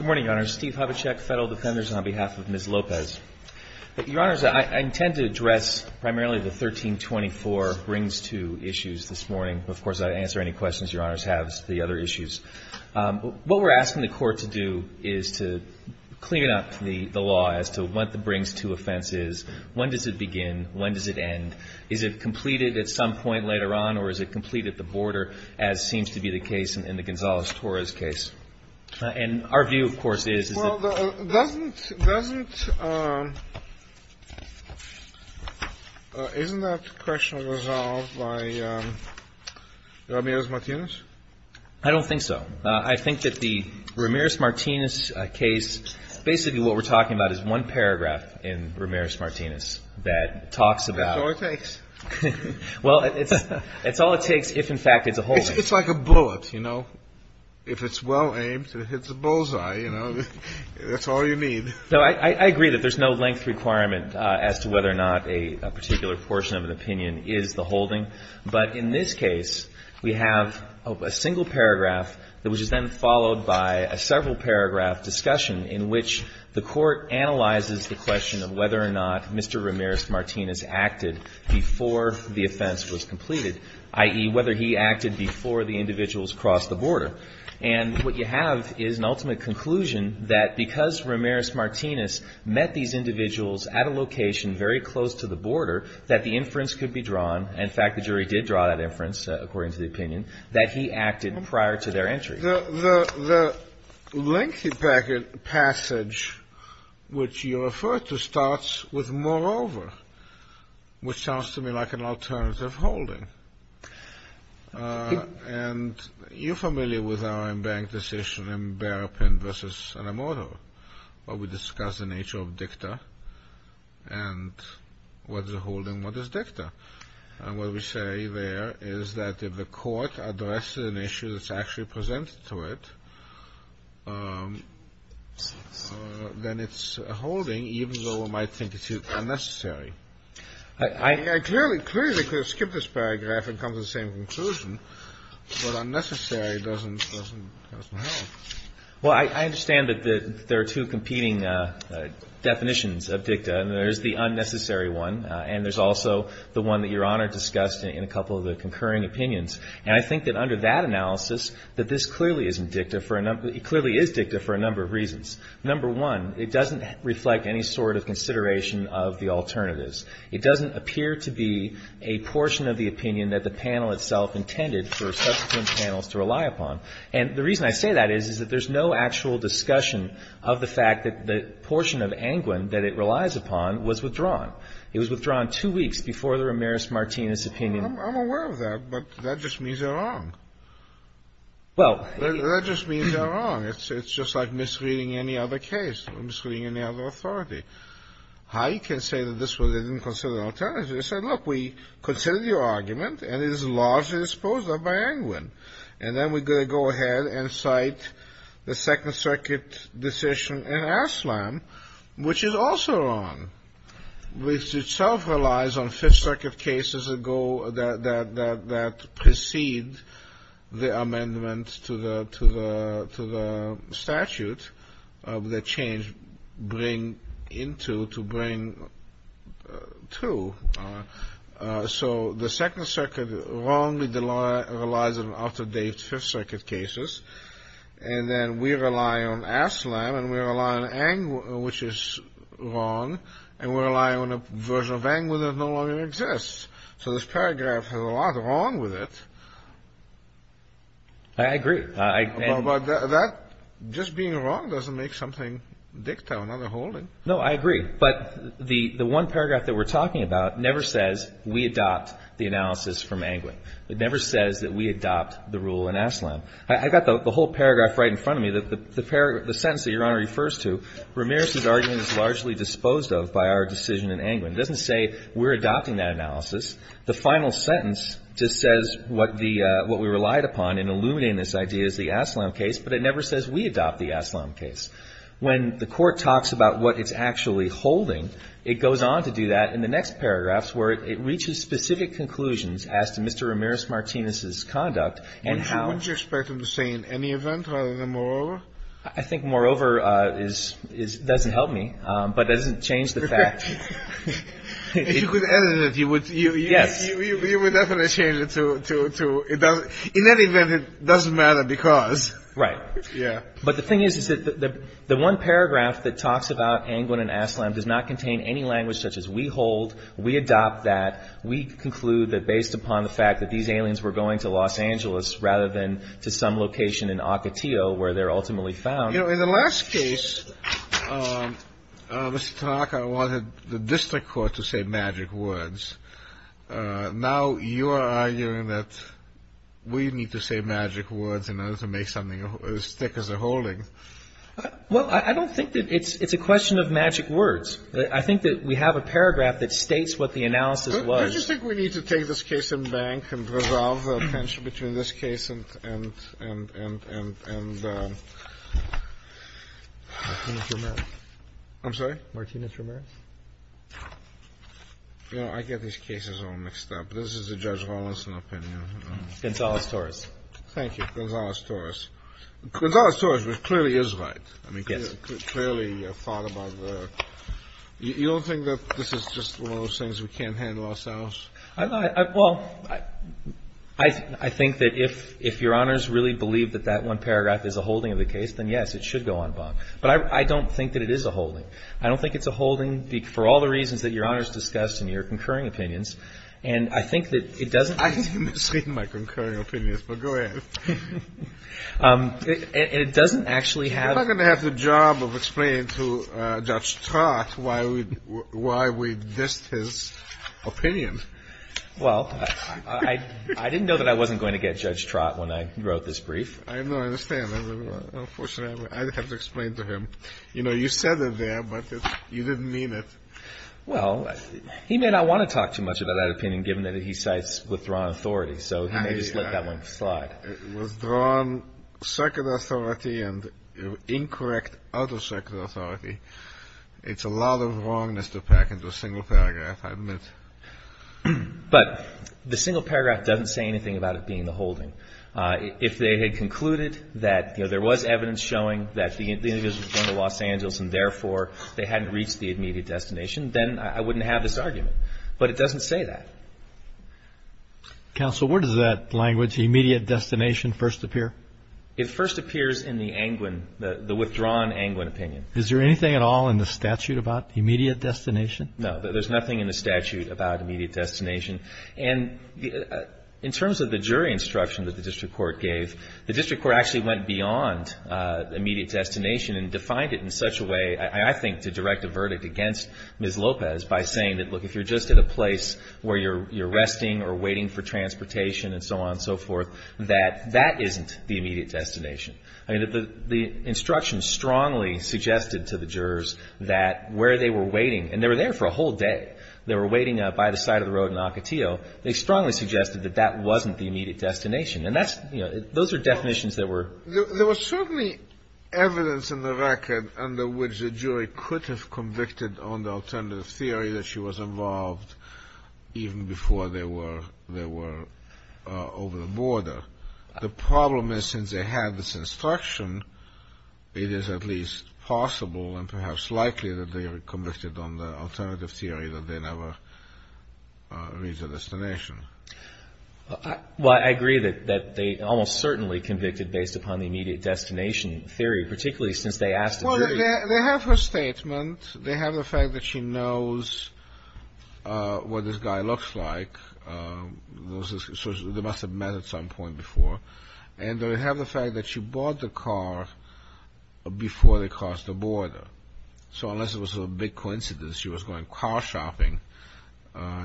Your Honor, I intend to address primarily the 1324 brings two issues this morning. Of course, I'd answer any questions your honors have as to the other issues. What we're asking the court to do is to clean up the law as to what the brings two offense is, when does it begin, when does it end, is it completed at some point later on or is it completed at the border as seems to be the case in the Gonzales-Torres case. And now I'm going to turn it over to Mr. Lopez to address the 1324 brings two issue. Isn't that question resolved by Ramirez-Martinez? I don't think so. I think that the Ramirez-Martinez case, basically what we're talking about is one paragraph in Ramirez-Martinez that talks about. That's all it takes. Well, it's all it takes if in fact it's a holding. It's like a bullet, you know. If it's well aimed and it hits a bullseye, you know, that's all you need. No, I agree that there's no length requirement as to whether or not a particular portion of an opinion is the holding. But in this case, we have a single paragraph that was then followed by a several paragraph discussion in which the court analyzes the question of whether or not Mr. Ramirez-Martinez acted before the offense was completed, i.e., whether he acted before the individuals crossed the border. And what you have is an ultimate conclusion that because Ramirez-Martinez met these individuals at a location very close to the border, that the inference could be drawn. In fact, the jury did draw that inference, according to the opinion, that he acted prior to their entry. The lengthy passage which you refer to starts with moreover, which sounds to me like an alternative holding. And you're familiar with our in-bank decision in Barapin v. Anamodo, where we discuss the nature of dicta and what is a holding, what is dicta. And what we say there is that if the court addresses an issue that's actually presented to it, then it's a holding even though it might think it's unnecessary. I clearly could have skipped this paragraph and come to the same conclusion, but unnecessary doesn't help. Well, I understand that there are two competing definitions of dicta, and there's the unnecessary one, and there's also the one that Your Honor discussed in a couple of the concurring opinions. And I think that under that analysis, that this clearly isn't dicta for a number of reasons. Number one, it doesn't reflect any sort of consideration of the alternatives. It doesn't appear to be a portion of the opinion that the panel itself intended for subsequent panels to rely upon. And the reason I say that is that there's no actual discussion of the fact that the portion of Angwin that it relies upon was withdrawn. It was withdrawn two weeks before the Ramirez-Martinez opinion. I'm aware of that, but that just means they're wrong. Well, that just means they're wrong. It's just like misreading any other case or misreading any other authority. How you can say that this wasn't considered an alternative? They said, look, we considered your argument, and it is largely disposed of by Angwin. And then we're going to go ahead and cite the Second Circuit decision in Aslam, which is also wrong, which itself relies on Fifth Circuit cases that precede the amendment to the statute that change bring into to bring to. So the Second Circuit wrongly relies on out-of-date Fifth Circuit cases. And then we rely on Aslam, and we rely on Angwin, which is wrong. And we rely on a version of Angwin that no longer exists. So this paragraph has a lot wrong with it. I agree. But that just being wrong doesn't make something dicta, another holding. No, I agree. But the one paragraph that we're talking about never says we adopt the analysis from Angwin. It never says that we adopt the rule in Aslam. I've got the whole paragraph right in front of me. The paragraph, the sentence that Your Honor refers to, Ramirez's argument is largely disposed of by our decision in Angwin. It doesn't say we're adopting that analysis. The final sentence just says what the, what we relied upon in illuminating this idea is the Aslam case, but it never says we adopt the Aslam case. When the Court talks about what it's actually holding, it goes on to do that in the next paragraphs where it reaches specific conclusions as to Mr. Ramirez-Martinez's conduct and how. What would you expect him to say in any event rather than moreover? I think moreover is, doesn't help me, but doesn't change the fact. If you could edit it, you would. Yes. You would definitely change it to, it doesn't, in any event, it doesn't matter because. Right. Yeah. But the thing is, is that the one paragraph that talks about Angwin and Aslam does not contain any language such as we hold, we adopt that, we conclude that based upon the fact that these aliens were going to Los Angeles rather than to some location in Ocotillo where they're ultimately found. You know, in the last case, Mr. Tanaka wanted the district court to say magic words. Now you are arguing that we need to say magic words in order to make something as thick as a holding. Well, I don't think that it's, it's a question of magic words. I think that we have a paragraph that states what the analysis was. Don't you think we need to take this case in bank and resolve the tension between this case and, and, and, and, and. Martinez-Ramirez. I'm sorry? Martinez-Ramirez. You know, I get these cases all mixed up. This is a Judge Rawlinson opinion. Gonzales-Torres. Thank you. Gonzales-Torres. Gonzales-Torres, which clearly is right. I mean, clearly thought about the, you don't think that this is just one of those things we can't handle ourselves? Well, I think that if, if Your Honors really believe that that one paragraph is a holding of the case, then yes, it should go on bond. But I don't think that it is a holding. I don't think it's a holding for all the reasons that Your Honors discussed in your concurring opinions. And I think that it doesn't. I misread my concurring opinions, but go ahead. And it doesn't actually have. I'm not going to have the job of explaining to Judge Trott why we, why we dissed his opinion. Well, I, I didn't know that I wasn't going to get Judge Trott when I wrote this brief. I know. I understand. Unfortunately, I have to explain to him. You know, you said it there, but you didn't mean it. Well, he may not want to talk too much about that opinion, given that he cites withdrawn authority. So he may just let that one slide. Withdrawn circuit authority and incorrect out-of-circuit authority. It's a lot of wrongness to pack into a single paragraph, I admit. But the single paragraph doesn't say anything about it being a holding. If they had concluded that, you know, there was evidence showing that the individual was born in Los Angeles and therefore they hadn't reached the immediate destination, then I wouldn't have this argument. But it doesn't say that. Counsel, where does that language, immediate destination, first appear? It first appears in the Angwin, the withdrawn Angwin opinion. Is there anything at all in the statute about immediate destination? No. There's nothing in the statute about immediate destination. And in terms of the jury instruction that the district court gave, the district court actually went beyond immediate destination and defined it in such a way, I think, to direct a verdict against Ms. Lopez by saying that, look, if you're just at a place where you're resting or waiting for transportation and so on and so forth, that that isn't the immediate destination. I mean, the instruction strongly suggested to the jurors that where they were waiting, and they were there for a whole day. They were waiting by the side of the road in Ocotillo. They strongly suggested that that wasn't the immediate destination. And that's, you know, those are definitions that were. There was certainly evidence in the record under which the jury could have convicted on the alternative theory that she was involved even before they were over the border. The problem is since they had this instruction, it is at least possible and perhaps likely that they were convicted on the alternative theory that they never reached a destination. Well, I agree that they almost certainly convicted based upon the immediate destination theory, particularly since they asked the jury. Well, they have her statement. They have the fact that she knows what this guy looks like. They must have met at some point before. And they have the fact that she bought the car before they crossed the border. So unless it was a big coincidence she was going car shopping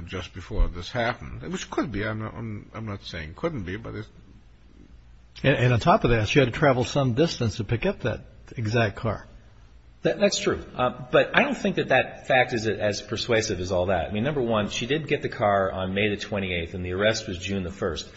just before this happened, which could be, I'm not saying couldn't be. And on top of that, she had to travel some distance to pick up that exact car. That's true. But I don't think that that fact is as persuasive as all that. I mean, number one, she did get the car on May the 28th and the arrest was June the 1st.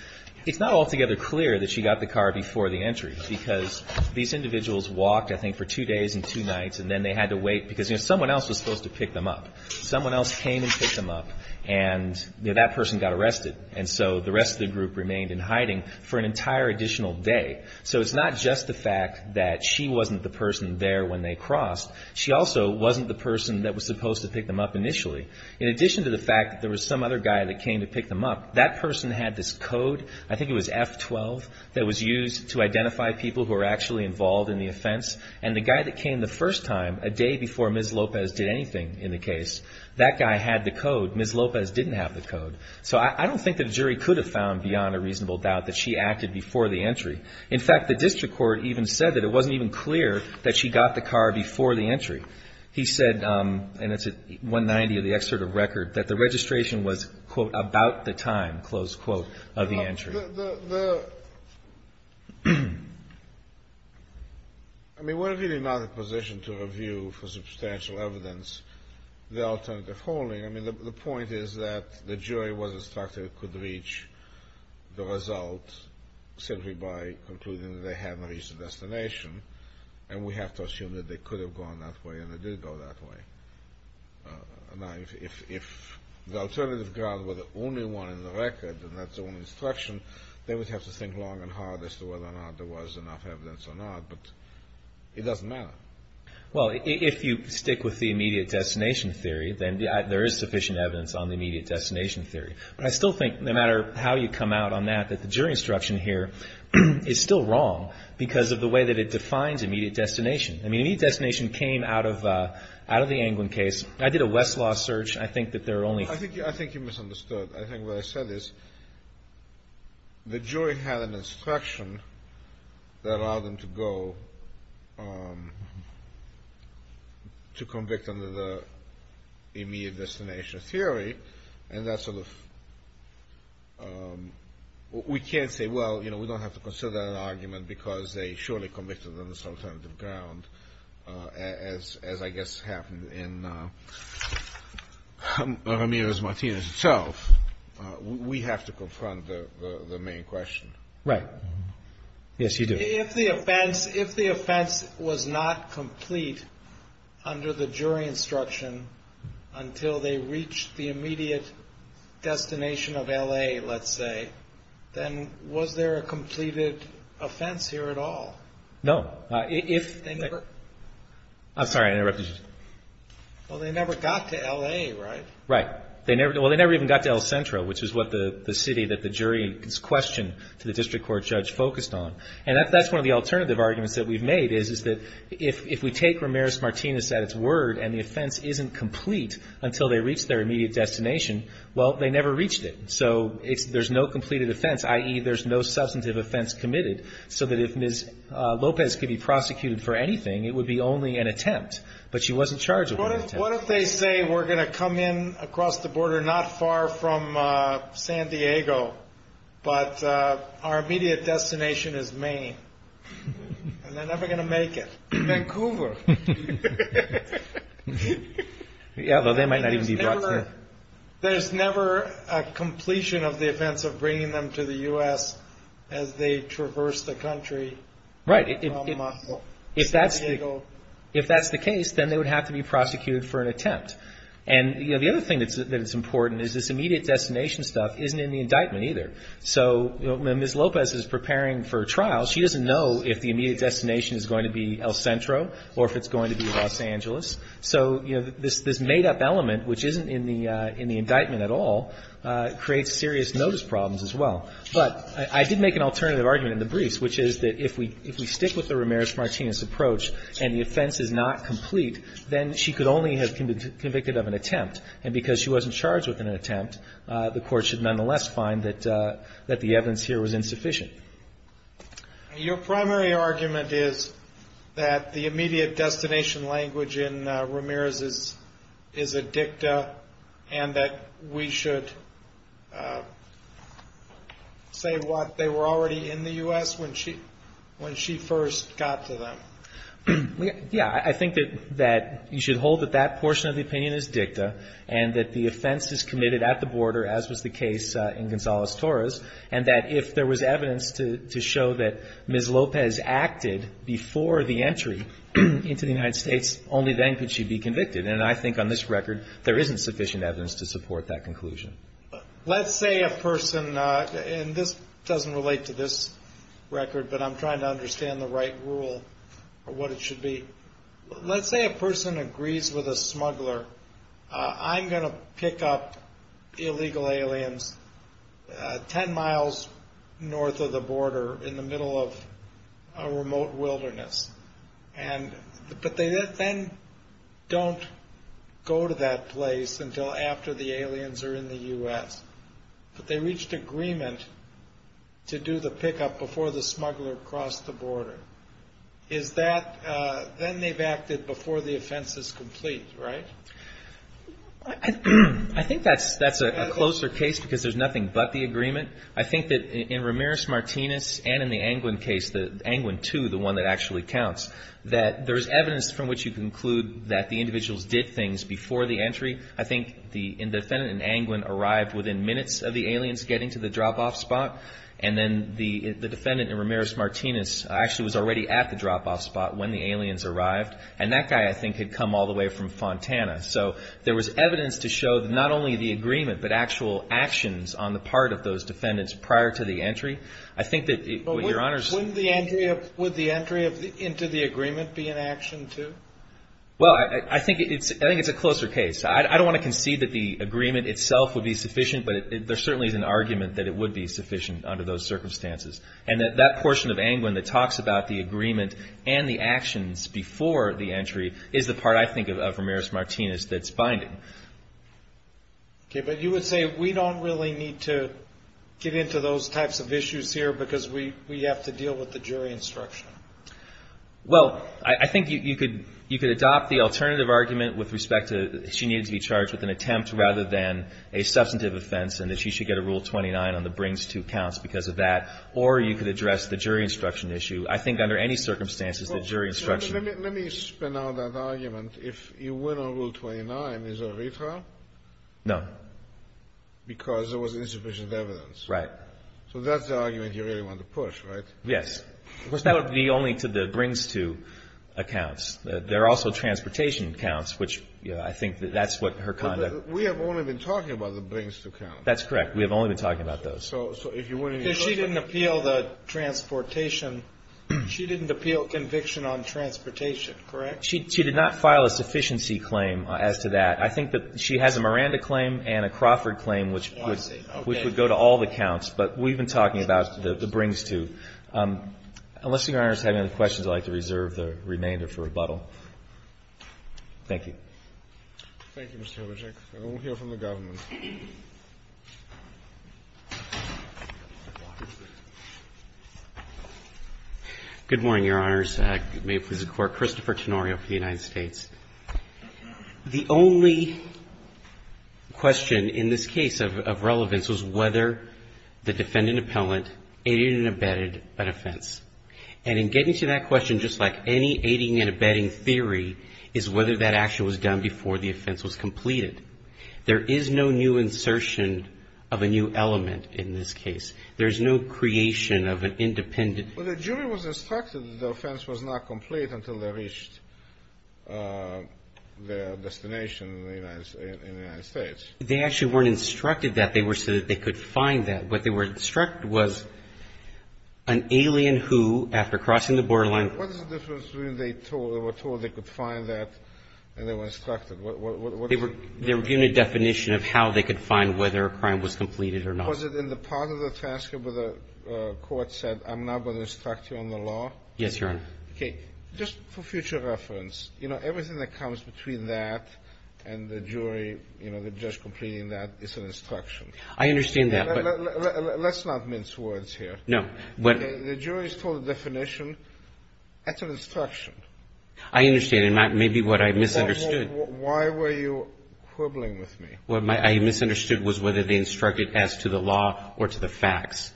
It's not altogether clear that she got the car before the entry because these individuals walked I think for two days and two nights and then they had to wait because, you know, someone else was supposed to pick them up. Someone else came and picked them up and, you know, that person got arrested. And so the rest of the group remained in hiding for an entire additional day. So it's not just the fact that she wasn't the person there when they crossed. She also wasn't the person that was supposed to pick them up initially. In addition to the fact that there was some other guy that came to pick them up, that person had this code, I think it was F12, that was used to identify people who were actually involved in the offense. And the guy that came the first time, a day before Ms. Lopez did anything in the case, that guy had the code. Ms. Lopez didn't have the code. So I don't think that a jury could have found beyond a reasonable doubt that she acted before the entry. In fact, the district court even said that it wasn't even clear that she got the car before the entry. He said, and it's at 190 of the excerpt of record, that the registration was, quote, about the time, close quote, of the entry. I mean, we're really not in a position to review for substantial evidence the alternative holding. I mean, the point is that the jury was instructed it could reach the result simply by concluding that they hadn't reached the destination. And we have to assume that they could have gone that way and they did go that way. Now, if the alternative guard were the only one in the record and that's the only instruction, they would have to think long and hard as to whether or not there was enough evidence or not. But it doesn't matter. Well, if you stick with the immediate destination theory, then there is sufficient evidence on the immediate destination theory. But I still think, no matter how you come out on that, that the jury instruction here is still wrong because of the way that it defines immediate destination. I mean, immediate destination came out of the Anglin case. I did a Westlaw search. I think that there are only – I think you misunderstood. I think what I said is the jury had an instruction that allowed them to go to convict under the immediate destination theory, and that sort of – we can't say, well, you know, we don't have to consider that an argument because they surely committed on this alternative ground, as I guess happened in Ramirez-Martinez itself. We have to confront the main question. Right. Yes, you do. If the offense was not complete under the jury instruction until they reached the immediate destination of L.A., let's say, then was there a completed offense here at all? No. If – They never – I'm sorry. I interrupted you. Well, they never got to L.A., right? Right. Well, they never even got to El Centro, which is what the city that the jury questioned to the district court judge focused on. And that's one of the alternative arguments that we've made is that if we take Ramirez-Martinez at its word and the offense isn't complete until they reach their immediate destination, well, they never reached it. So there's no completed offense, i.e., there's no substantive offense committed, so that if Ms. Lopez could be prosecuted for anything, it would be only an attempt. But she wasn't charged with an attempt. What if they say we're going to come in across the border not far from San Diego, but our immediate destination is Maine, and they're never going to make it? Vancouver. Yeah, well, they might not even be brought to – There's never a completion of the offense of bringing them to the U.S. as they traverse the country from San Diego. Right. If that's the case, then they would have to be prosecuted for an attempt. And the other thing that's important is this immediate destination stuff isn't in the indictment either. So Ms. Lopez is preparing for a trial. She doesn't know if the immediate destination is going to be El Centro or if it's going to be Los Angeles. So, you know, this made-up element, which isn't in the indictment at all, creates serious notice problems as well. But I did make an alternative argument in the briefs, which is that if we stick with the Ramirez-Martinez approach and the offense is not complete, then she could only have been convicted of an attempt. And because she wasn't charged with an attempt, the Court should nonetheless find that the evidence here was insufficient. Your primary argument is that the immediate destination language in Ramirez's is a dicta and that we should say what they were already in the U.S. when she first got to them. Yeah. I think that you should hold that that portion of the opinion is dicta and that the offense is committed at the border, as was the case in Gonzales-Torres, and that if there was evidence to show that Ms. Lopez acted before the entry into the United States, only then could she be convicted. And I think on this record there isn't sufficient evidence to support that conclusion. Let's say a person, and this doesn't relate to this record, but I'm trying to understand the right rule or what it should be. Let's say a person agrees with a smuggler, I'm going to pick up illegal aliens 10 miles north of the border in the middle of a remote wilderness. But they then don't go to that place until after the aliens are in the U.S. But they reached agreement to do the pickup before the smuggler crossed the border. Is that then they've acted before the offense is complete, right? I think that's a closer case because there's nothing but the agreement. I think that in Ramirez-Martinez and in the Angwin case, the Angwin 2, the one that actually counts, that there is evidence from which you conclude that the individuals did things before the entry. I think the defendant in Angwin arrived within minutes of the aliens getting to the drop-off spot. And then the defendant in Ramirez-Martinez actually was already at the drop-off spot when the aliens arrived. And that guy, I think, had come all the way from Fontana. So there was evidence to show that not only the agreement, but actual actions on the part of those defendants prior to the entry. I think that, Your Honors – But wouldn't the entry of – would the entry into the agreement be an action, too? Well, I think it's a closer case. I don't want to concede that the agreement itself would be sufficient, but there certainly is an argument that it would be sufficient under those circumstances. And that portion of Angwin that talks about the agreement and the actions before the entry is the part, I think, of Ramirez-Martinez that's binding. Okay, but you would say we don't really need to get into those types of issues here because we have to deal with the jury instruction. Well, I think you could adopt the alternative argument with respect to she needed to be charged with an attempt rather than a substantive offense and that she should get a Rule 29 on the brings to accounts because of that. Or you could address the jury instruction issue. I think under any circumstances, the jury instruction – Let me spin out that argument. If you win on Rule 29, is there a retrial? No. Because there was insufficient evidence. Right. So that's the argument you really want to push, right? Yes. That would be only to the brings to accounts. There are also transportation accounts, which I think that's what her conduct – We have only been talking about the brings to accounts. That's correct. We have only been talking about those. So if you win – Because she didn't appeal the transportation – she didn't appeal conviction on transportation, correct? She did not file a sufficiency claim as to that. I think that she has a Miranda claim and a Crawford claim, which would go to all the accounts. But we've been talking about the brings to. Unless Your Honors have any questions, I'd like to reserve the remainder for rebuttal. Thank you. Thank you, Mr. Wojciech. And we'll hear from the government. Good morning, Your Honors. May it please the Court. Christopher Tenorio for the United States. The only question in this case of relevance was whether the defendant appellant aided and abetted an offense. And in getting to that question, just like any aiding and abetting theory, is whether that action was done before the offense was completed. There is no new insertion of a new element in this case. There is no creation of an independent – Well, the jury was instructed that the offense was not complete until they reached their destination in the United States. They actually weren't instructed that. They were said that they could find that. What they were instructed was an alien who, after crossing the borderline – What is the difference between they were told they could find that and they were instructed? They were given a definition of how they could find whether a crime was completed or not. Was it in the part of the transcript where the court said, I'm now going to instruct you on the law? Yes, Your Honor. Okay. Just for future reference, you know, everything that comes between that and the jury, you know, the judge completing that, is an instruction. I understand that, but – Let's not mince words here. No. The jury is told a definition. That's an instruction. I understand. And maybe what I misunderstood – Why were you quibbling with me? What I misunderstood was whether they instructed as to the law or to the facts.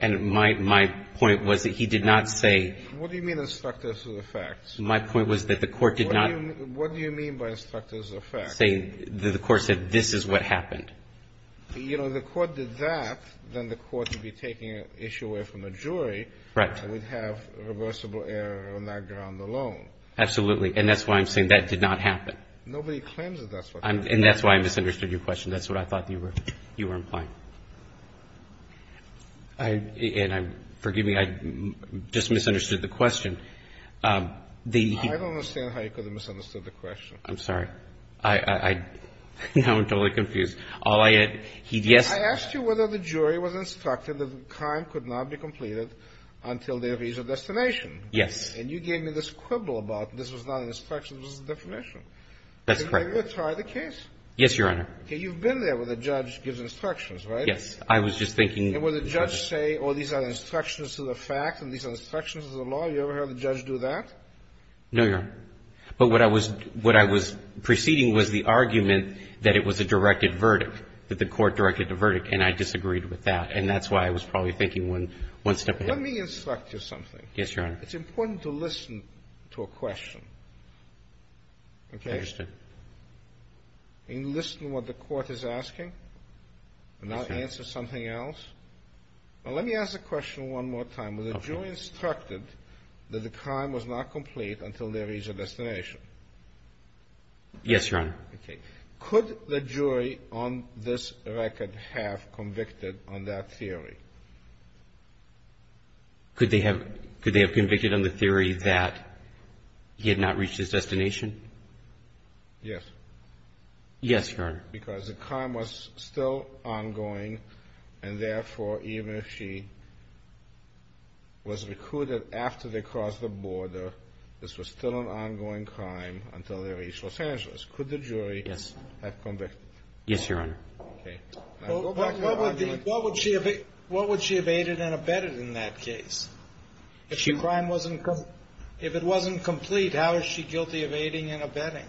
And my point was that he did not say – What do you mean, instructors of the facts? My point was that the court did not – What do you mean by instructors of facts? The court said, this is what happened. You know, if the court did that, then the court would be taking an issue away from the jury. Right. And we'd have reversible error on that ground alone. Absolutely. And that's why I'm saying that did not happen. Nobody claims that that's what happened. And that's why I misunderstood your question. That's what I thought you were implying. And forgive me, I just misunderstood the question. I don't understand how you could have misunderstood the question. I'm sorry. I'm totally confused. I asked you whether the jury was instructed that the crime could not be completed until there is a destination. Yes. And you gave me this quibble about this was not an instruction, this was a definition. That's correct. Now, let's try the case. Yes, Your Honor. Okay. You've been there where the judge gives instructions, right? Yes. I was just thinking – And where the judge say, oh, these are instructions to the facts and these are instructions to the law. You ever heard the judge do that? No, Your Honor. But what I was – what I was preceding was the argument that it was a directed verdict, that the court directed a verdict. And I disagreed with that. And that's why I was probably thinking one step ahead. Let me instruct you something. Yes, Your Honor. It's important to listen to a question. Okay. I understand. And listen to what the court is asking and not answer something else. Now, let me ask the question one more time. Okay. Was the jury instructed that the crime was not complete until there is a destination? Yes, Your Honor. Okay. Could the jury on this record have convicted on that theory? Could they have convicted on the theory that he had not reached his destination? Yes. Yes, Your Honor. Because the crime was still ongoing, and therefore, even if she was recruited after they crossed the border, this was still an ongoing crime until they reached Los Angeles. Could the jury have convicted? Yes, Your Honor. Okay. What would she have aided and abetted in that case? If it wasn't complete, how is she guilty of aiding and abetting?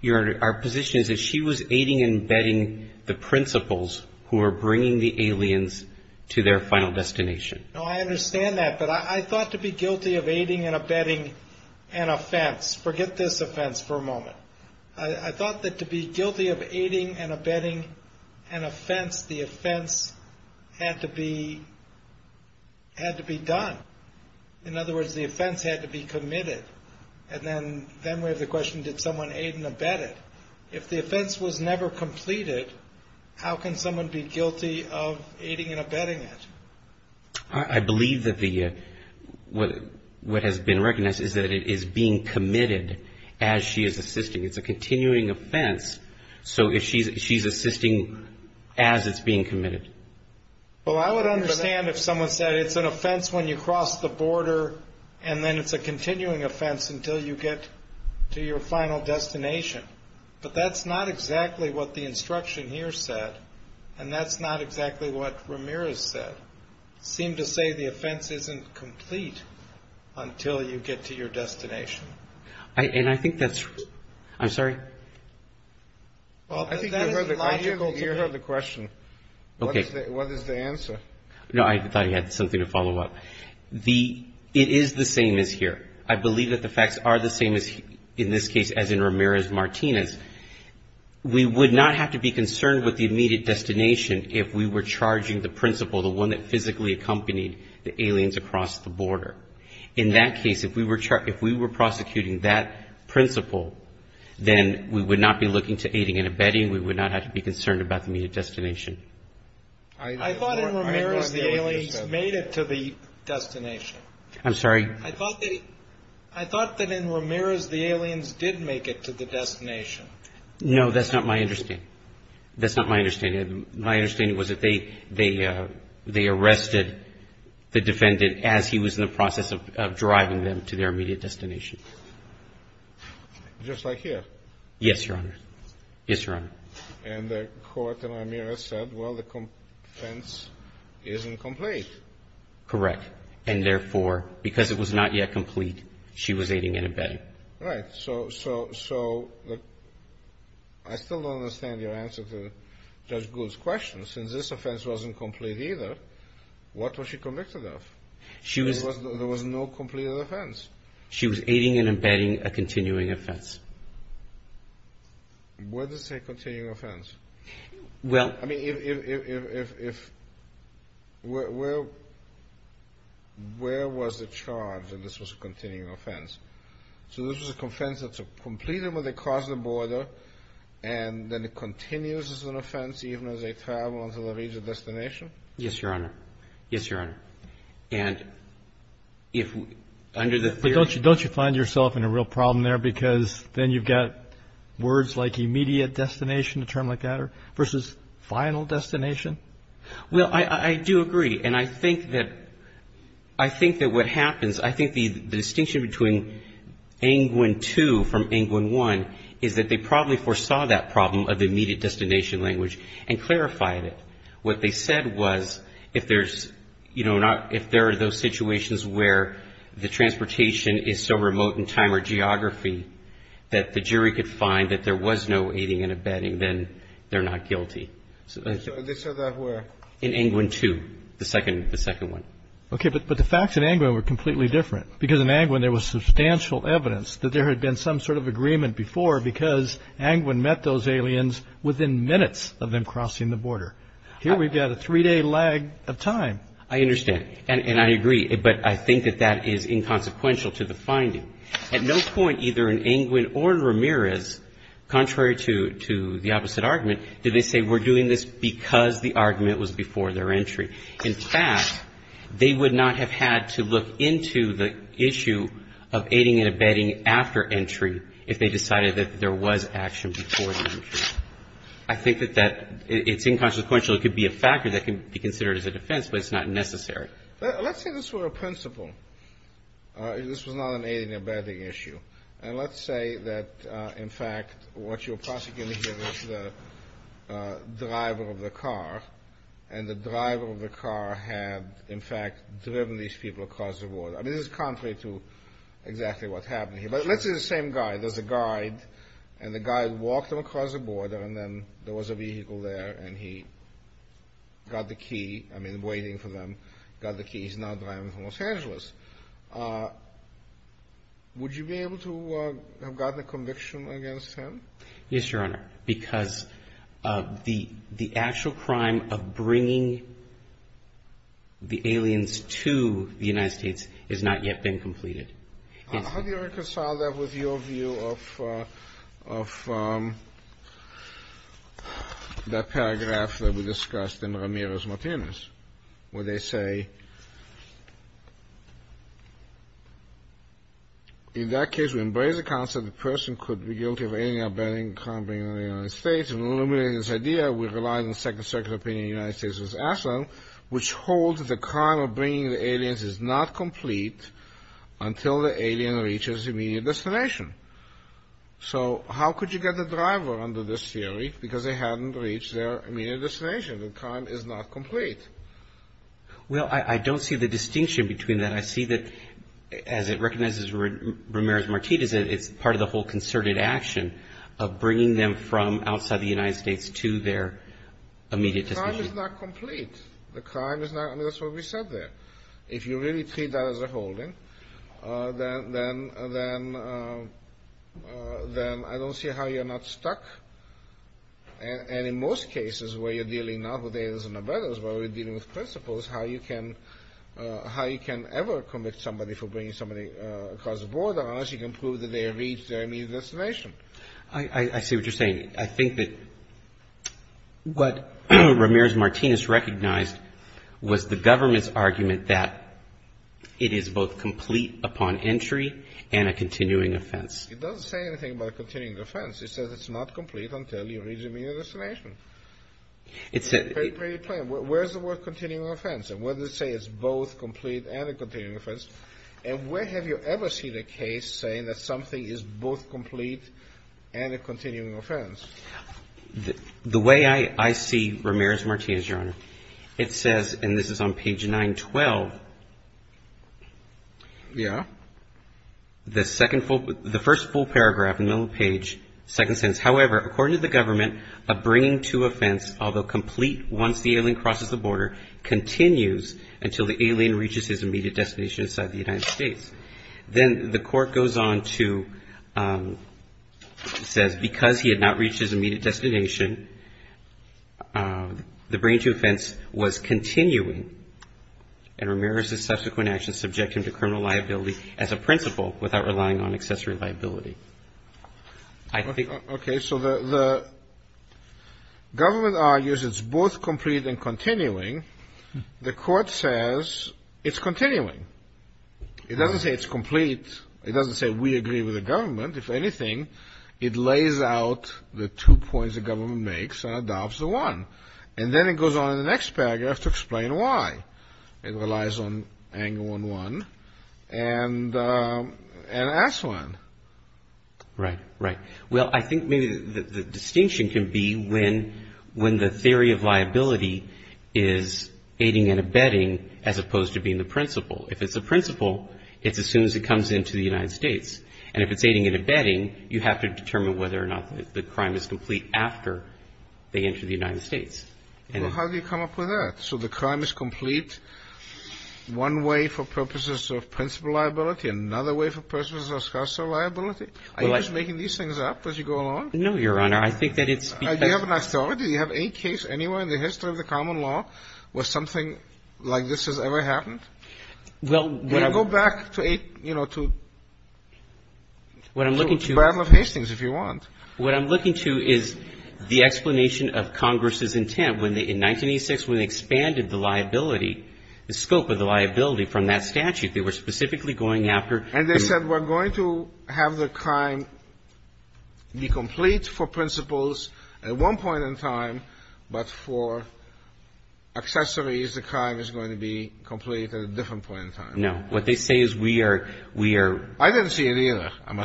Your Honor, our position is that she was aiding and abetting the principals who were bringing the aliens to their final destination. No, I understand that. But I thought to be guilty of aiding and abetting an offense. Forget this offense for a moment. I thought that to be guilty of aiding and abetting an offense, the offense had to be done. In other words, the offense had to be committed. And then we have the question, did someone aid and abet it? If the offense was never completed, how can someone be guilty of aiding and abetting it? I believe that what has been recognized is that it is being committed as she is assisting. It's a continuing offense, so she's assisting as it's being committed. Well, I would understand if someone said it's an offense when you cross the border and then it's a continuing offense until you get to your final destination. But that's not exactly what the instruction here said, and that's not exactly what Ramirez said. It seemed to say the offense isn't complete until you get to your destination. And I think that's true. I'm sorry? I think you heard the question. What is the answer? No, I thought he had something to follow up. It is the same as here. I believe that the facts are the same in this case as in Ramirez-Martinez. We would not have to be concerned with the immediate destination if we were charging the principal, the one that physically accompanied the aliens across the border. In that case, if we were prosecuting that principal, then we would not be looking to aiding and abetting. We would not have to be concerned about the immediate destination. I thought in Ramirez the aliens made it to the destination. I'm sorry? I thought that in Ramirez the aliens did make it to the destination. No, that's not my understanding. That's not my understanding. My understanding was that they arrested the defendant as he was in the process of driving them to their immediate destination. Just like here? Yes, Your Honor. Yes, Your Honor. And the court in Ramirez said, well, the offense isn't complete. Correct. And therefore, because it was not yet complete, she was aiding and abetting. All right. So I still don't understand your answer to Judge Gould's question. Since this offense wasn't complete either, what was she convicted of? There was no completed offense. She was aiding and abetting a continuing offense. Where does it say continuing offense? I mean, where was the charge that this was a continuing offense? So this was a offense that's completed when they cross the border, and then it continues as an offense even as they travel to the region destination? Yes, Your Honor. Yes, Your Honor. But don't you find yourself in a real problem there because then you've got words like final destination? Well, I do agree. And I think that what happens, I think the distinction between Angwin 2 from Angwin 1 is that they probably foresaw that problem of the immediate destination language and clarified it. What they said was if there's, you know, if there are those situations where the transportation is so remote in time or geography that the jury could find that there was no aiding and abetting, then they're not guilty. They said that where? In Angwin 2, the second one. Okay. But the facts in Angwin were completely different because in Angwin there was substantial evidence that there had been some sort of agreement before because Angwin met those aliens within minutes of them crossing the border. Here we've got a three-day lag of time. I understand. But I think that that is inconsequential to the finding. At no point either in Angwin or Ramirez, contrary to the opposite argument, did they say we're doing this because the argument was before their entry. In fact, they would not have had to look into the issue of aiding and abetting after entry if they decided that there was action before the entry. I think that that's inconsequential. It could be a factor that can be considered as a defense, but it's not necessary. Let's say this were a principle. This was not an aiding and abetting issue. And let's say that, in fact, what you're prosecuting here is the driver of the car, and the driver of the car had, in fact, driven these people across the border. I mean, this is contrary to exactly what happened here. But let's say the same guy. There's a guide, and the guide walked them across the border, and then there was a vehicle there, and he got the key. I mean, waiting for them, got the key. He's now driving from Los Angeles. Would you be able to have gotten a conviction against him? Yes, Your Honor, because the actual crime of bringing the aliens to the United States has not yet been completed. How do you reconcile that with your view of that paragraph that we discussed in Ramirez-Martinez, where they say, In that case, we embrace the concept that the person could be guilty of aiding and abetting the crime of bringing them to the United States. And eliminating this idea, we rely on the Second Circuit opinion in the United States v. Ashland, which holds that the crime of bringing the aliens is not complete until the alien reaches the immediate destination. So how could you get the driver under this theory? Because they hadn't reached their immediate destination. The crime is not complete. Well, I don't see the distinction between that. I see that, as it recognizes Ramirez-Martinez, it's part of the whole concerted action of bringing them from outside the United States to their immediate destination. The crime is not complete. The crime is not. I mean, that's what we said there. If you really treat that as a holding, then I don't see how you're not stuck. And in most cases where you're dealing not with aliens and abettors, but we're dealing with principles, how you can ever commit somebody for bringing somebody across the border unless you can prove that they have reached their immediate destination. I see what you're saying. I think that what Ramirez-Martinez recognized was the government's argument that it is both complete upon entry and a continuing offense. It doesn't say anything about a continuing offense. It says it's not complete until you reach your immediate destination. It's a pretty plain. Where is the word continuing offense? And where does it say it's both complete and a continuing offense? And where have you ever seen a case saying that something is both complete and a continuing offense? The way I see Ramirez-Martinez, Your Honor, it says, and this is on page 912. Yeah. The first full paragraph in the middle of the page, second sentence, however, according to the government, a bringing to offense, although complete once the alien crosses the border, continues until the alien reaches his immediate destination inside the United States. Then the court goes on to say because he had not reached his immediate destination, the bringing to offense was continuing and Ramirez's subsequent actions subject him to criminal liability as a principle without relying on accessory liability. I think the ---- Okay. So the government argues it's both complete and continuing. The court says it's continuing. It doesn't say it's complete. It doesn't say we agree with the government. If anything, it lays out the two points the government makes and adopts the one. And then it goes on in the next paragraph to explain why. It relies on angle 1-1 and ask one. Right, right. Well, I think maybe the distinction can be when the theory of liability is aiding and abetting as opposed to being the principle. If it's a principle, it's as soon as it comes into the United States. And if it's aiding and abetting, you have to determine whether or not the crime is complete after they enter the United States. Well, how do you come up with that? So the crime is complete one way for purposes of principle liability, another way for purposes of special liability? Are you just making these things up as you go along? No, Your Honor. I think that it's because ---- Do you have an authority? Do you have any case anywhere in the history of the common law where something like this has ever happened? Well ---- Go back to, you know, to ---- What I'm looking to ---- To the battle of Hastings, if you want. What I'm looking to is the explanation of Congress's intent when they, in 1986, when they expanded the liability, the scope of the liability from that statute. They were specifically going after the ---- And they said we're going to have the crime be complete for principles at one point in time, but for accessories, the crime is going to be complete at a different point in time. No. What they say is we are, we are ---- I didn't see any either. No.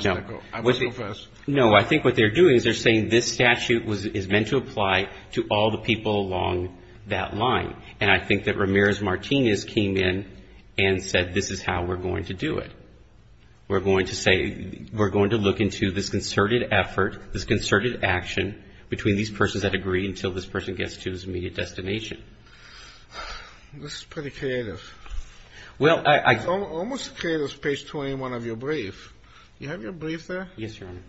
I must go first. No. I think what they're doing is they're saying this statute is meant to apply to all the people along that line. And I think that Ramirez-Martinez came in and said this is how we're going to do it. We're going to say, we're going to look into this concerted effort, this concerted action, between these persons that agree until this person gets to his immediate destination. This is pretty creative. Well, I ---- It's almost as creative as page 21 of your brief. Do you have your brief there? Yes, Your Honor.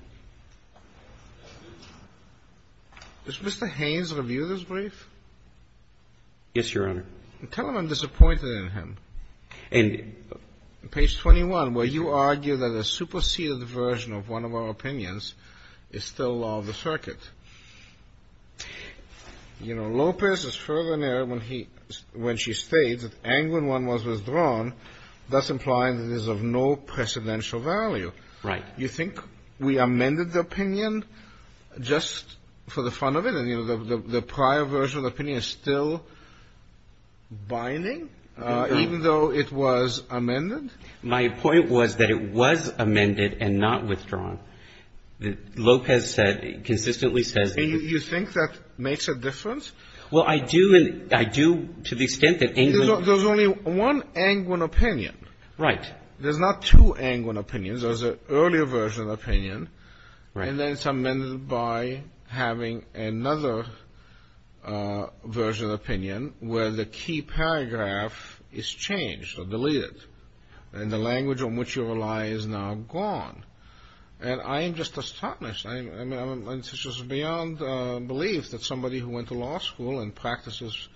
Does Mr. Haynes review this brief? Yes, Your Honor. Tell him I'm disappointed in him. And ---- You know, Lopez has further narrowed when he, when she states that Angwin I was withdrawn, thus implying that it is of no precedential value. Right. You think we amended the opinion just for the fun of it? And, you know, the prior version of the opinion is still binding, even though it was amended? My point was that it was amended and not withdrawn. Lopez said, consistently says ---- And you think that makes a difference? Well, I do, and I do to the extent that Angwin ---- There's only one Angwin opinion. Right. There's not two Angwin opinions. There's an earlier version of the opinion. Right. And then it's amended by having another version of the opinion where the key paragraph is changed or deleted. And the language on which you rely is now gone. And I am just astonished. I mean, it's just beyond belief that somebody who went to law school and practices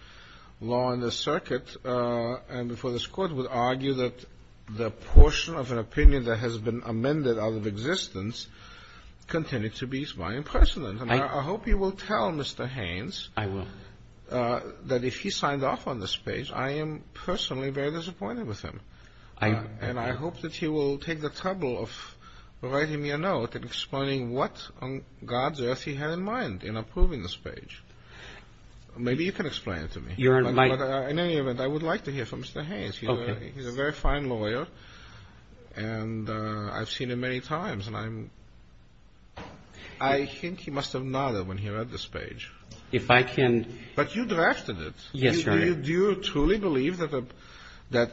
law in the circuit and before this Court would argue that the portion of an opinion that has been amended out of existence continued to be by imprecedent. And I hope you will tell Mr. Haynes ---- I will. ---- that if he signed off on this page, I am personally very disappointed with him. And I hope that he will take the trouble of writing me a note and explaining what on God's earth he had in mind in approving this page. Maybe you can explain it to me. You're in my ---- In any event, I would like to hear from Mr. Haynes. Okay. He's a very fine lawyer, and I've seen him many times, and I'm ---- I think he must have nodded when he read this page. If I can ---- But you drafted it. Yes, Your Honor. Do you truly believe that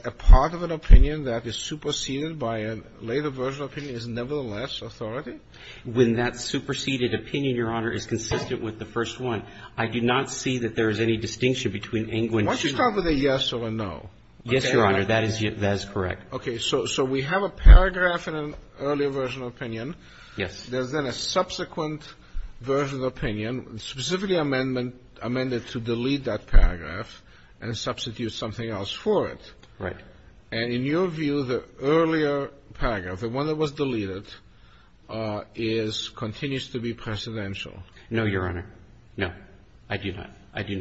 a part of an opinion that is superseded by a later version of opinion is nevertheless authority? When that superseded opinion, Your Honor, is consistent with the first one, I do not see that there is any distinction between Englund and Schumer. Why don't you start with a yes or a no? Yes, Your Honor. That is correct. Okay. So we have a paragraph in an earlier version of opinion. Yes. There's then a subsequent version of opinion, specifically amendment ---- amended to delete that paragraph and substitute something else for it. Right. And in your view, the earlier paragraph, the one that was deleted, is ---- continues to be precedential. No, Your Honor. No, I do not. I do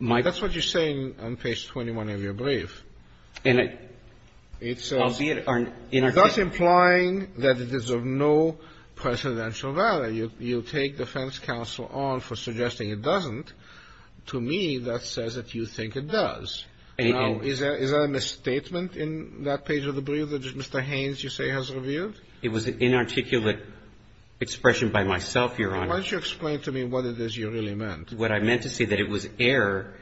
not. That's what you're saying on page 21 of your brief. And I ---- It's a ---- I'll see it on ---- That's implying that it is of no precedential value. You take defense counsel on for suggesting it doesn't. To me, that says that you think it does. No. Is there a misstatement in that page of the brief that Mr. Haynes, you say, has revealed? It was an inarticulate expression by myself, Your Honor. Why don't you explain to me what it is you really meant? What I meant to say that it was error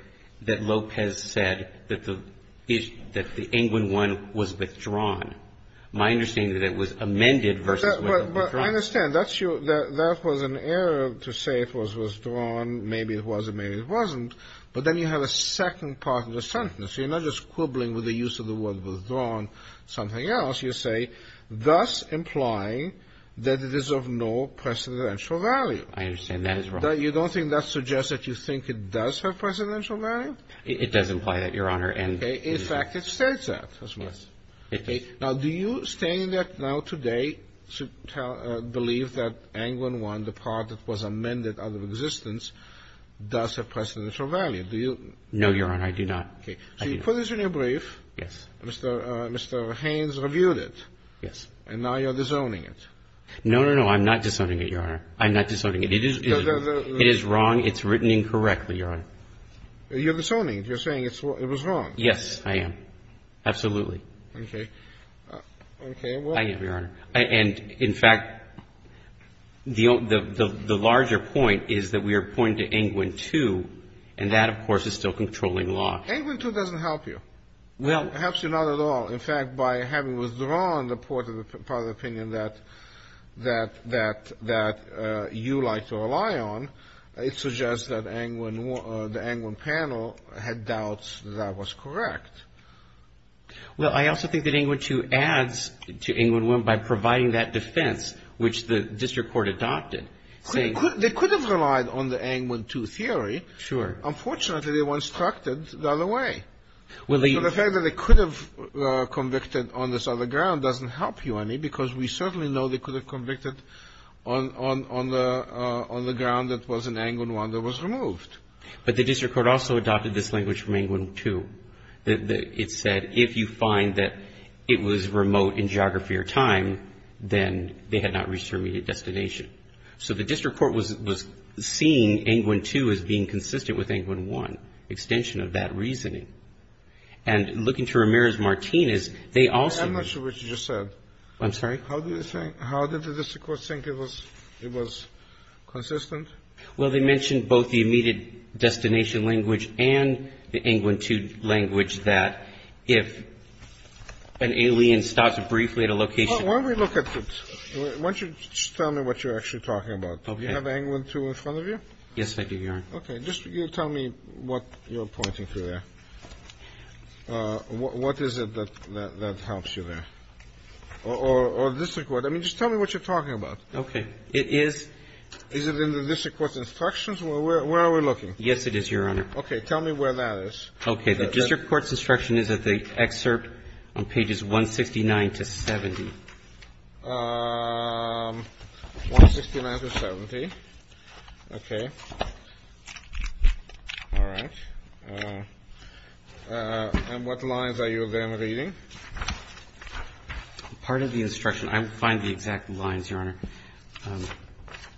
that Lopez said that the ---- that the England one was withdrawn. My understanding is that it was amended versus withdrawn. But I understand. That's your ---- that was an error to say it was withdrawn. Maybe it was and maybe it wasn't. But then you have a second part of the sentence. You're not just quibbling with the use of the word withdrawn, something else. You say, thus implying that it is of no precedential value. I understand that is wrong. You don't think that suggests that you think it does have precedential value? It does imply that, Your Honor. Okay. In fact, it states that. Okay. Now, do you stand now today to believe that England one, the part that was amended out of existence, does have precedential value? Do you? No, Your Honor. I do not. Okay. So you put this in your brief. Yes. Mr. Haynes reviewed it. Yes. And now you're disowning it. No, no, no. I'm not disowning it, Your Honor. I'm not disowning it. It is wrong. It's written incorrectly, Your Honor. You're disowning it. You're saying it was wrong. Yes, I am. Absolutely. Okay. Okay. I am, Your Honor. And in fact, the larger point is that we are pointing to England two, and that, of course, is still controlling law. England two doesn't help you. It helps you not at all. In fact, by having withdrawn the part of the opinion that you like to rely on, it suggests that the England panel had doubts that that was correct. Well, I also think that England two adds to England one by providing that defense, which the district court adopted. They could have relied on the England two theory. Sure. Unfortunately, they were instructed the other way. Well, the fact that they could have convicted on this other ground doesn't help you any, because we certainly know they could have convicted on the ground that it was in England one that was removed. But the district court also adopted this language from England two. It said if you find that it was remote in geography or time, then they had not reached their immediate destination. So the district court was seeing England two as being consistent with England one, extension of that reasoning. And looking to Ramirez-Martinez, they also ---- I'm not sure what you just said. I'm sorry? How did the district court think it was consistent? Well, they mentioned both the immediate destination language and the England two language, that if an alien stops briefly at a location ---- Why don't we look at it? Why don't you just tell me what you're actually talking about? Okay. Do you have England two in front of you? Yes, I do, Your Honor. Okay. Just you tell me what you're pointing to there. What is it that helps you there? Or district court. I mean, just tell me what you're talking about. Okay. It is ---- Is it in the district court's instructions? Where are we looking? Yes, it is, Your Honor. Okay. Tell me where that is. Okay. The district court's instruction is at the excerpt on pages 169 to 70. 169 to 70. Okay. All right. And what lines are you then reading? Part of the instruction. I find the exact lines, Your Honor.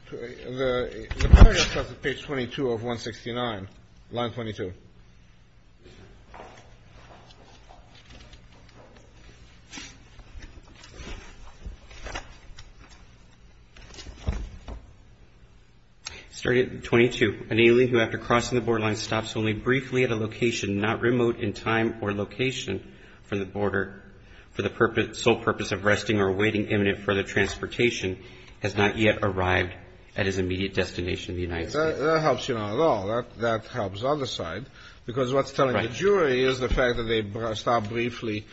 The paragraph is on page 22 of 169, line 22. Thank you. Starting at 22. An alien who, after crossing the borderline, stops only briefly at a location not remote in time or location from the border for the sole purpose of resting or awaiting imminent further transportation has not yet arrived at his immediate destination in the United States. That helps you not at all. That helps the other side because what's telling the jury is the fact that they stopped briefly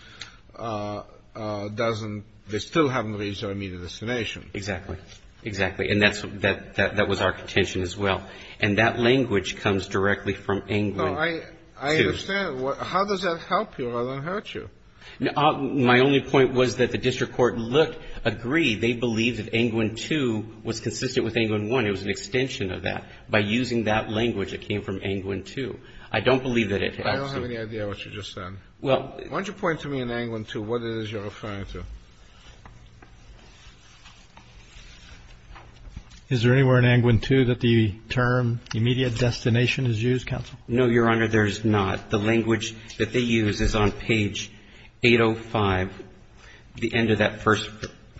doesn't ---- they still haven't reached their immediate destination. Exactly. Exactly. And that was our contention as well. And that language comes directly from Englund 2. I understand. How does that help you rather than hurt you? My only point was that the district court looked, agreed, they believed that Englund 2 was consistent with Englund 1. It was an extension of that. By using that language that came from Englund 2, I don't believe that it helps you. I don't have any idea what you just said. Well ---- Why don't you point to me in Englund 2 what it is you're referring to? Is there anywhere in Englund 2 that the term immediate destination is used, counsel? No, Your Honor, there's not. The language that they use is on page 805, the end of that first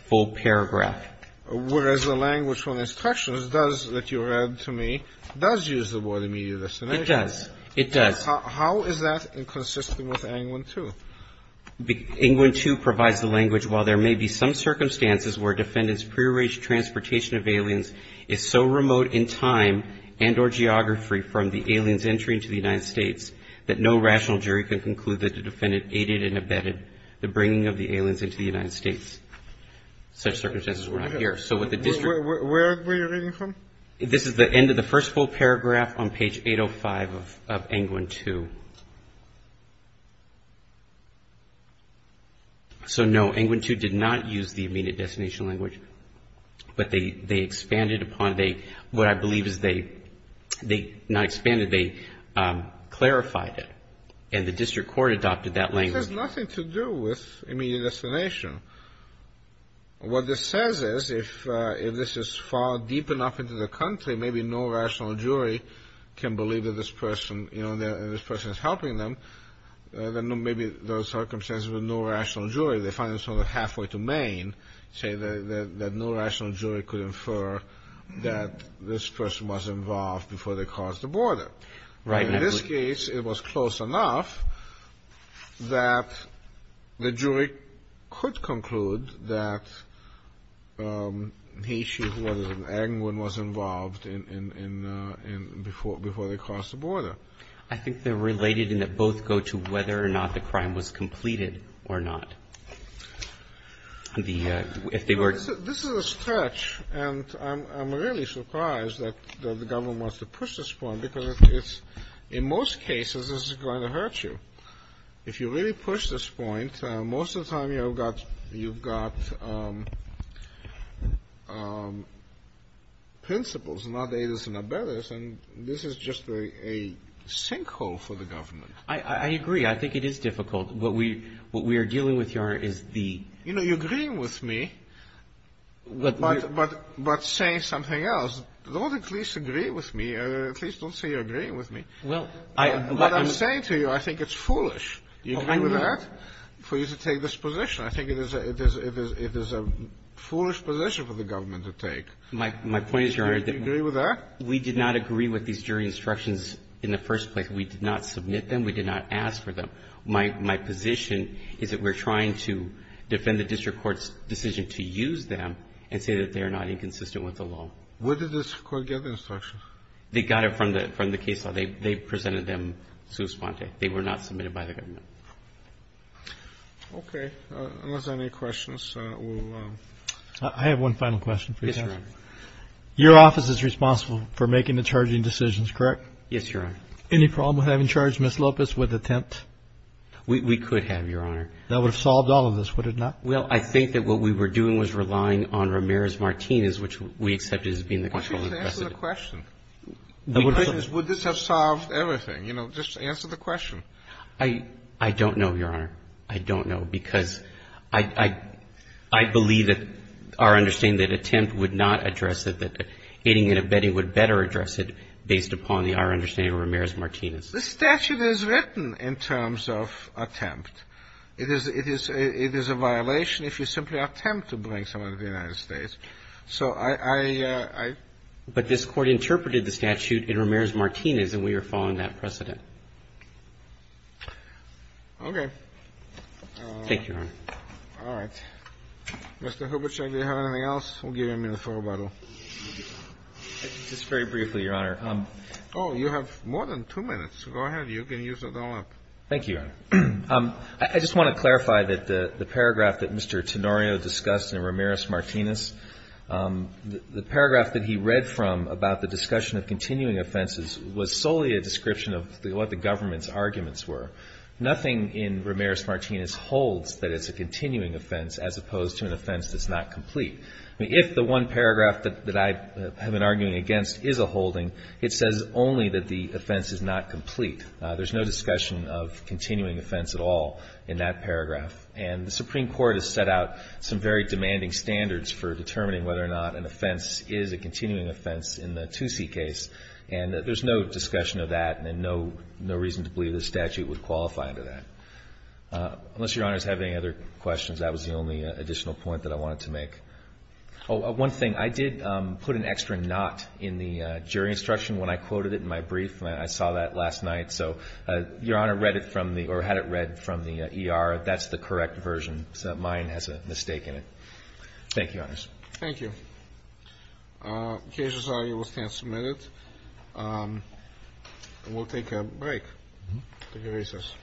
full paragraph. Whereas the language from the instructions does, that you read to me, does use the word immediate destination. It does. It does. How is that inconsistent with Englund 2? Englund 2 provides the language, while there may be some circumstances where defendant's prearranged transportation of aliens is so remote in time and or geography from the alien's entry into the United States that no rational jury can conclude that the defendant aided and abetted the bringing of the aliens into the United States. Such circumstances were not here. So what the district ---- Where were you reading from? This is the end of the first full paragraph on page 805 of Englund 2. So, no, Englund 2 did not use the immediate destination language, but they expanded upon it. What I believe is they not expanded, they clarified it. And the district court adopted that language. It has nothing to do with immediate destination. What this says is if this is far deep enough into the country, maybe no rational jury can believe that this person is helping them. Then maybe those circumstances with no rational jury, they find themselves halfway to Maine, say that no rational jury could infer that this person was involved before they crossed the border. Right. In this case, it was close enough that the jury could conclude that the issue of whether Englund was involved in before they crossed the border. I think they're related in that both go to whether or not the crime was completed or not. If they were ---- This is a stretch, and I'm really surprised that the government wants to push this point, because it's ---- in most cases, this is going to hurt you. If you really push this point, most of the time you've got ---- you've got principles, not aidas and abeddas, and this is just a sinkhole for the government. I agree. I think it is difficult. What we are dealing with, Your Honor, is the ---- You know, you're agreeing with me, but saying something else. Don't at least agree with me. At least don't say you're agreeing with me. Well, I ---- What I'm saying to you, I think it's foolish. Do you agree with that, for you to take this position? I think it is a foolish position for the government to take. My point is, Your Honor ---- Do you agree with that? We did not agree with these jury instructions in the first place. We did not submit them. We did not ask for them. My position is that we're trying to defend the district court's decision to use them and say that they are not inconsistent with the law. Where did the district court get the instructions? They got it from the case law. They presented them sua sponte. They were not submitted by the government. Okay. Unless there are any questions, we'll ---- I have one final question for you, Your Honor. Yes, Your Honor. Your office is responsible for making the charging decisions, correct? Yes, Your Honor. Any problem with having charged Ms. Lopez with attempt? We could have, Your Honor. That would have solved all of this, would it not? Well, I think that what we were doing was relying on Ramirez-Martinez, which we accepted as being the controlling precedent. Why don't you just answer the question? The question is, would this have solved everything? You know, just answer the question. I don't know, Your Honor. I don't know, because I believe that our understanding that attempt would not address it, that aiding and abetting would better address it based upon our understanding of Ramirez-Martinez. This statute is written in terms of attempt. It is a violation if you simply attempt to bring someone to the United States. So I ---- But this Court interpreted the statute in Ramirez-Martinez, and we are following that precedent. Okay. Thank you, Your Honor. All right. Mr. Hubachek, do you have anything else? We'll give you a minute for rebuttal. Just very briefly, Your Honor. Oh, you have more than two minutes. Go ahead. You can use it all up. Thank you, Your Honor. I just want to clarify that the paragraph that Mr. Tenorio discussed in Ramirez-Martinez, the paragraph that he read from about the discussion of continuing offenses was solely a description of what the government's arguments were. Nothing in Ramirez-Martinez holds that it's a continuing offense as opposed to an offense that's not complete. I mean, if the one paragraph that I have been arguing against is a holding, it says only that the offense is not complete. There's no discussion of continuing offense at all in that paragraph. And the Supreme Court has set out some very demanding standards for determining whether or not an offense is a continuing offense in the Toosie case, and there's no discussion of that and no reason to believe the statute would qualify under that. Unless Your Honor has any other questions, that was the only additional point that I wanted to make. Oh, one thing. I did put an extra not in the jury instruction when I quoted it in my brief, and I saw that last night. So Your Honor read it from the ER. That's the correct version. Mine has a mistake in it. Thank you, Your Honors. Thank you. Cases are able to stand submitted. We'll take a break. Take a recess.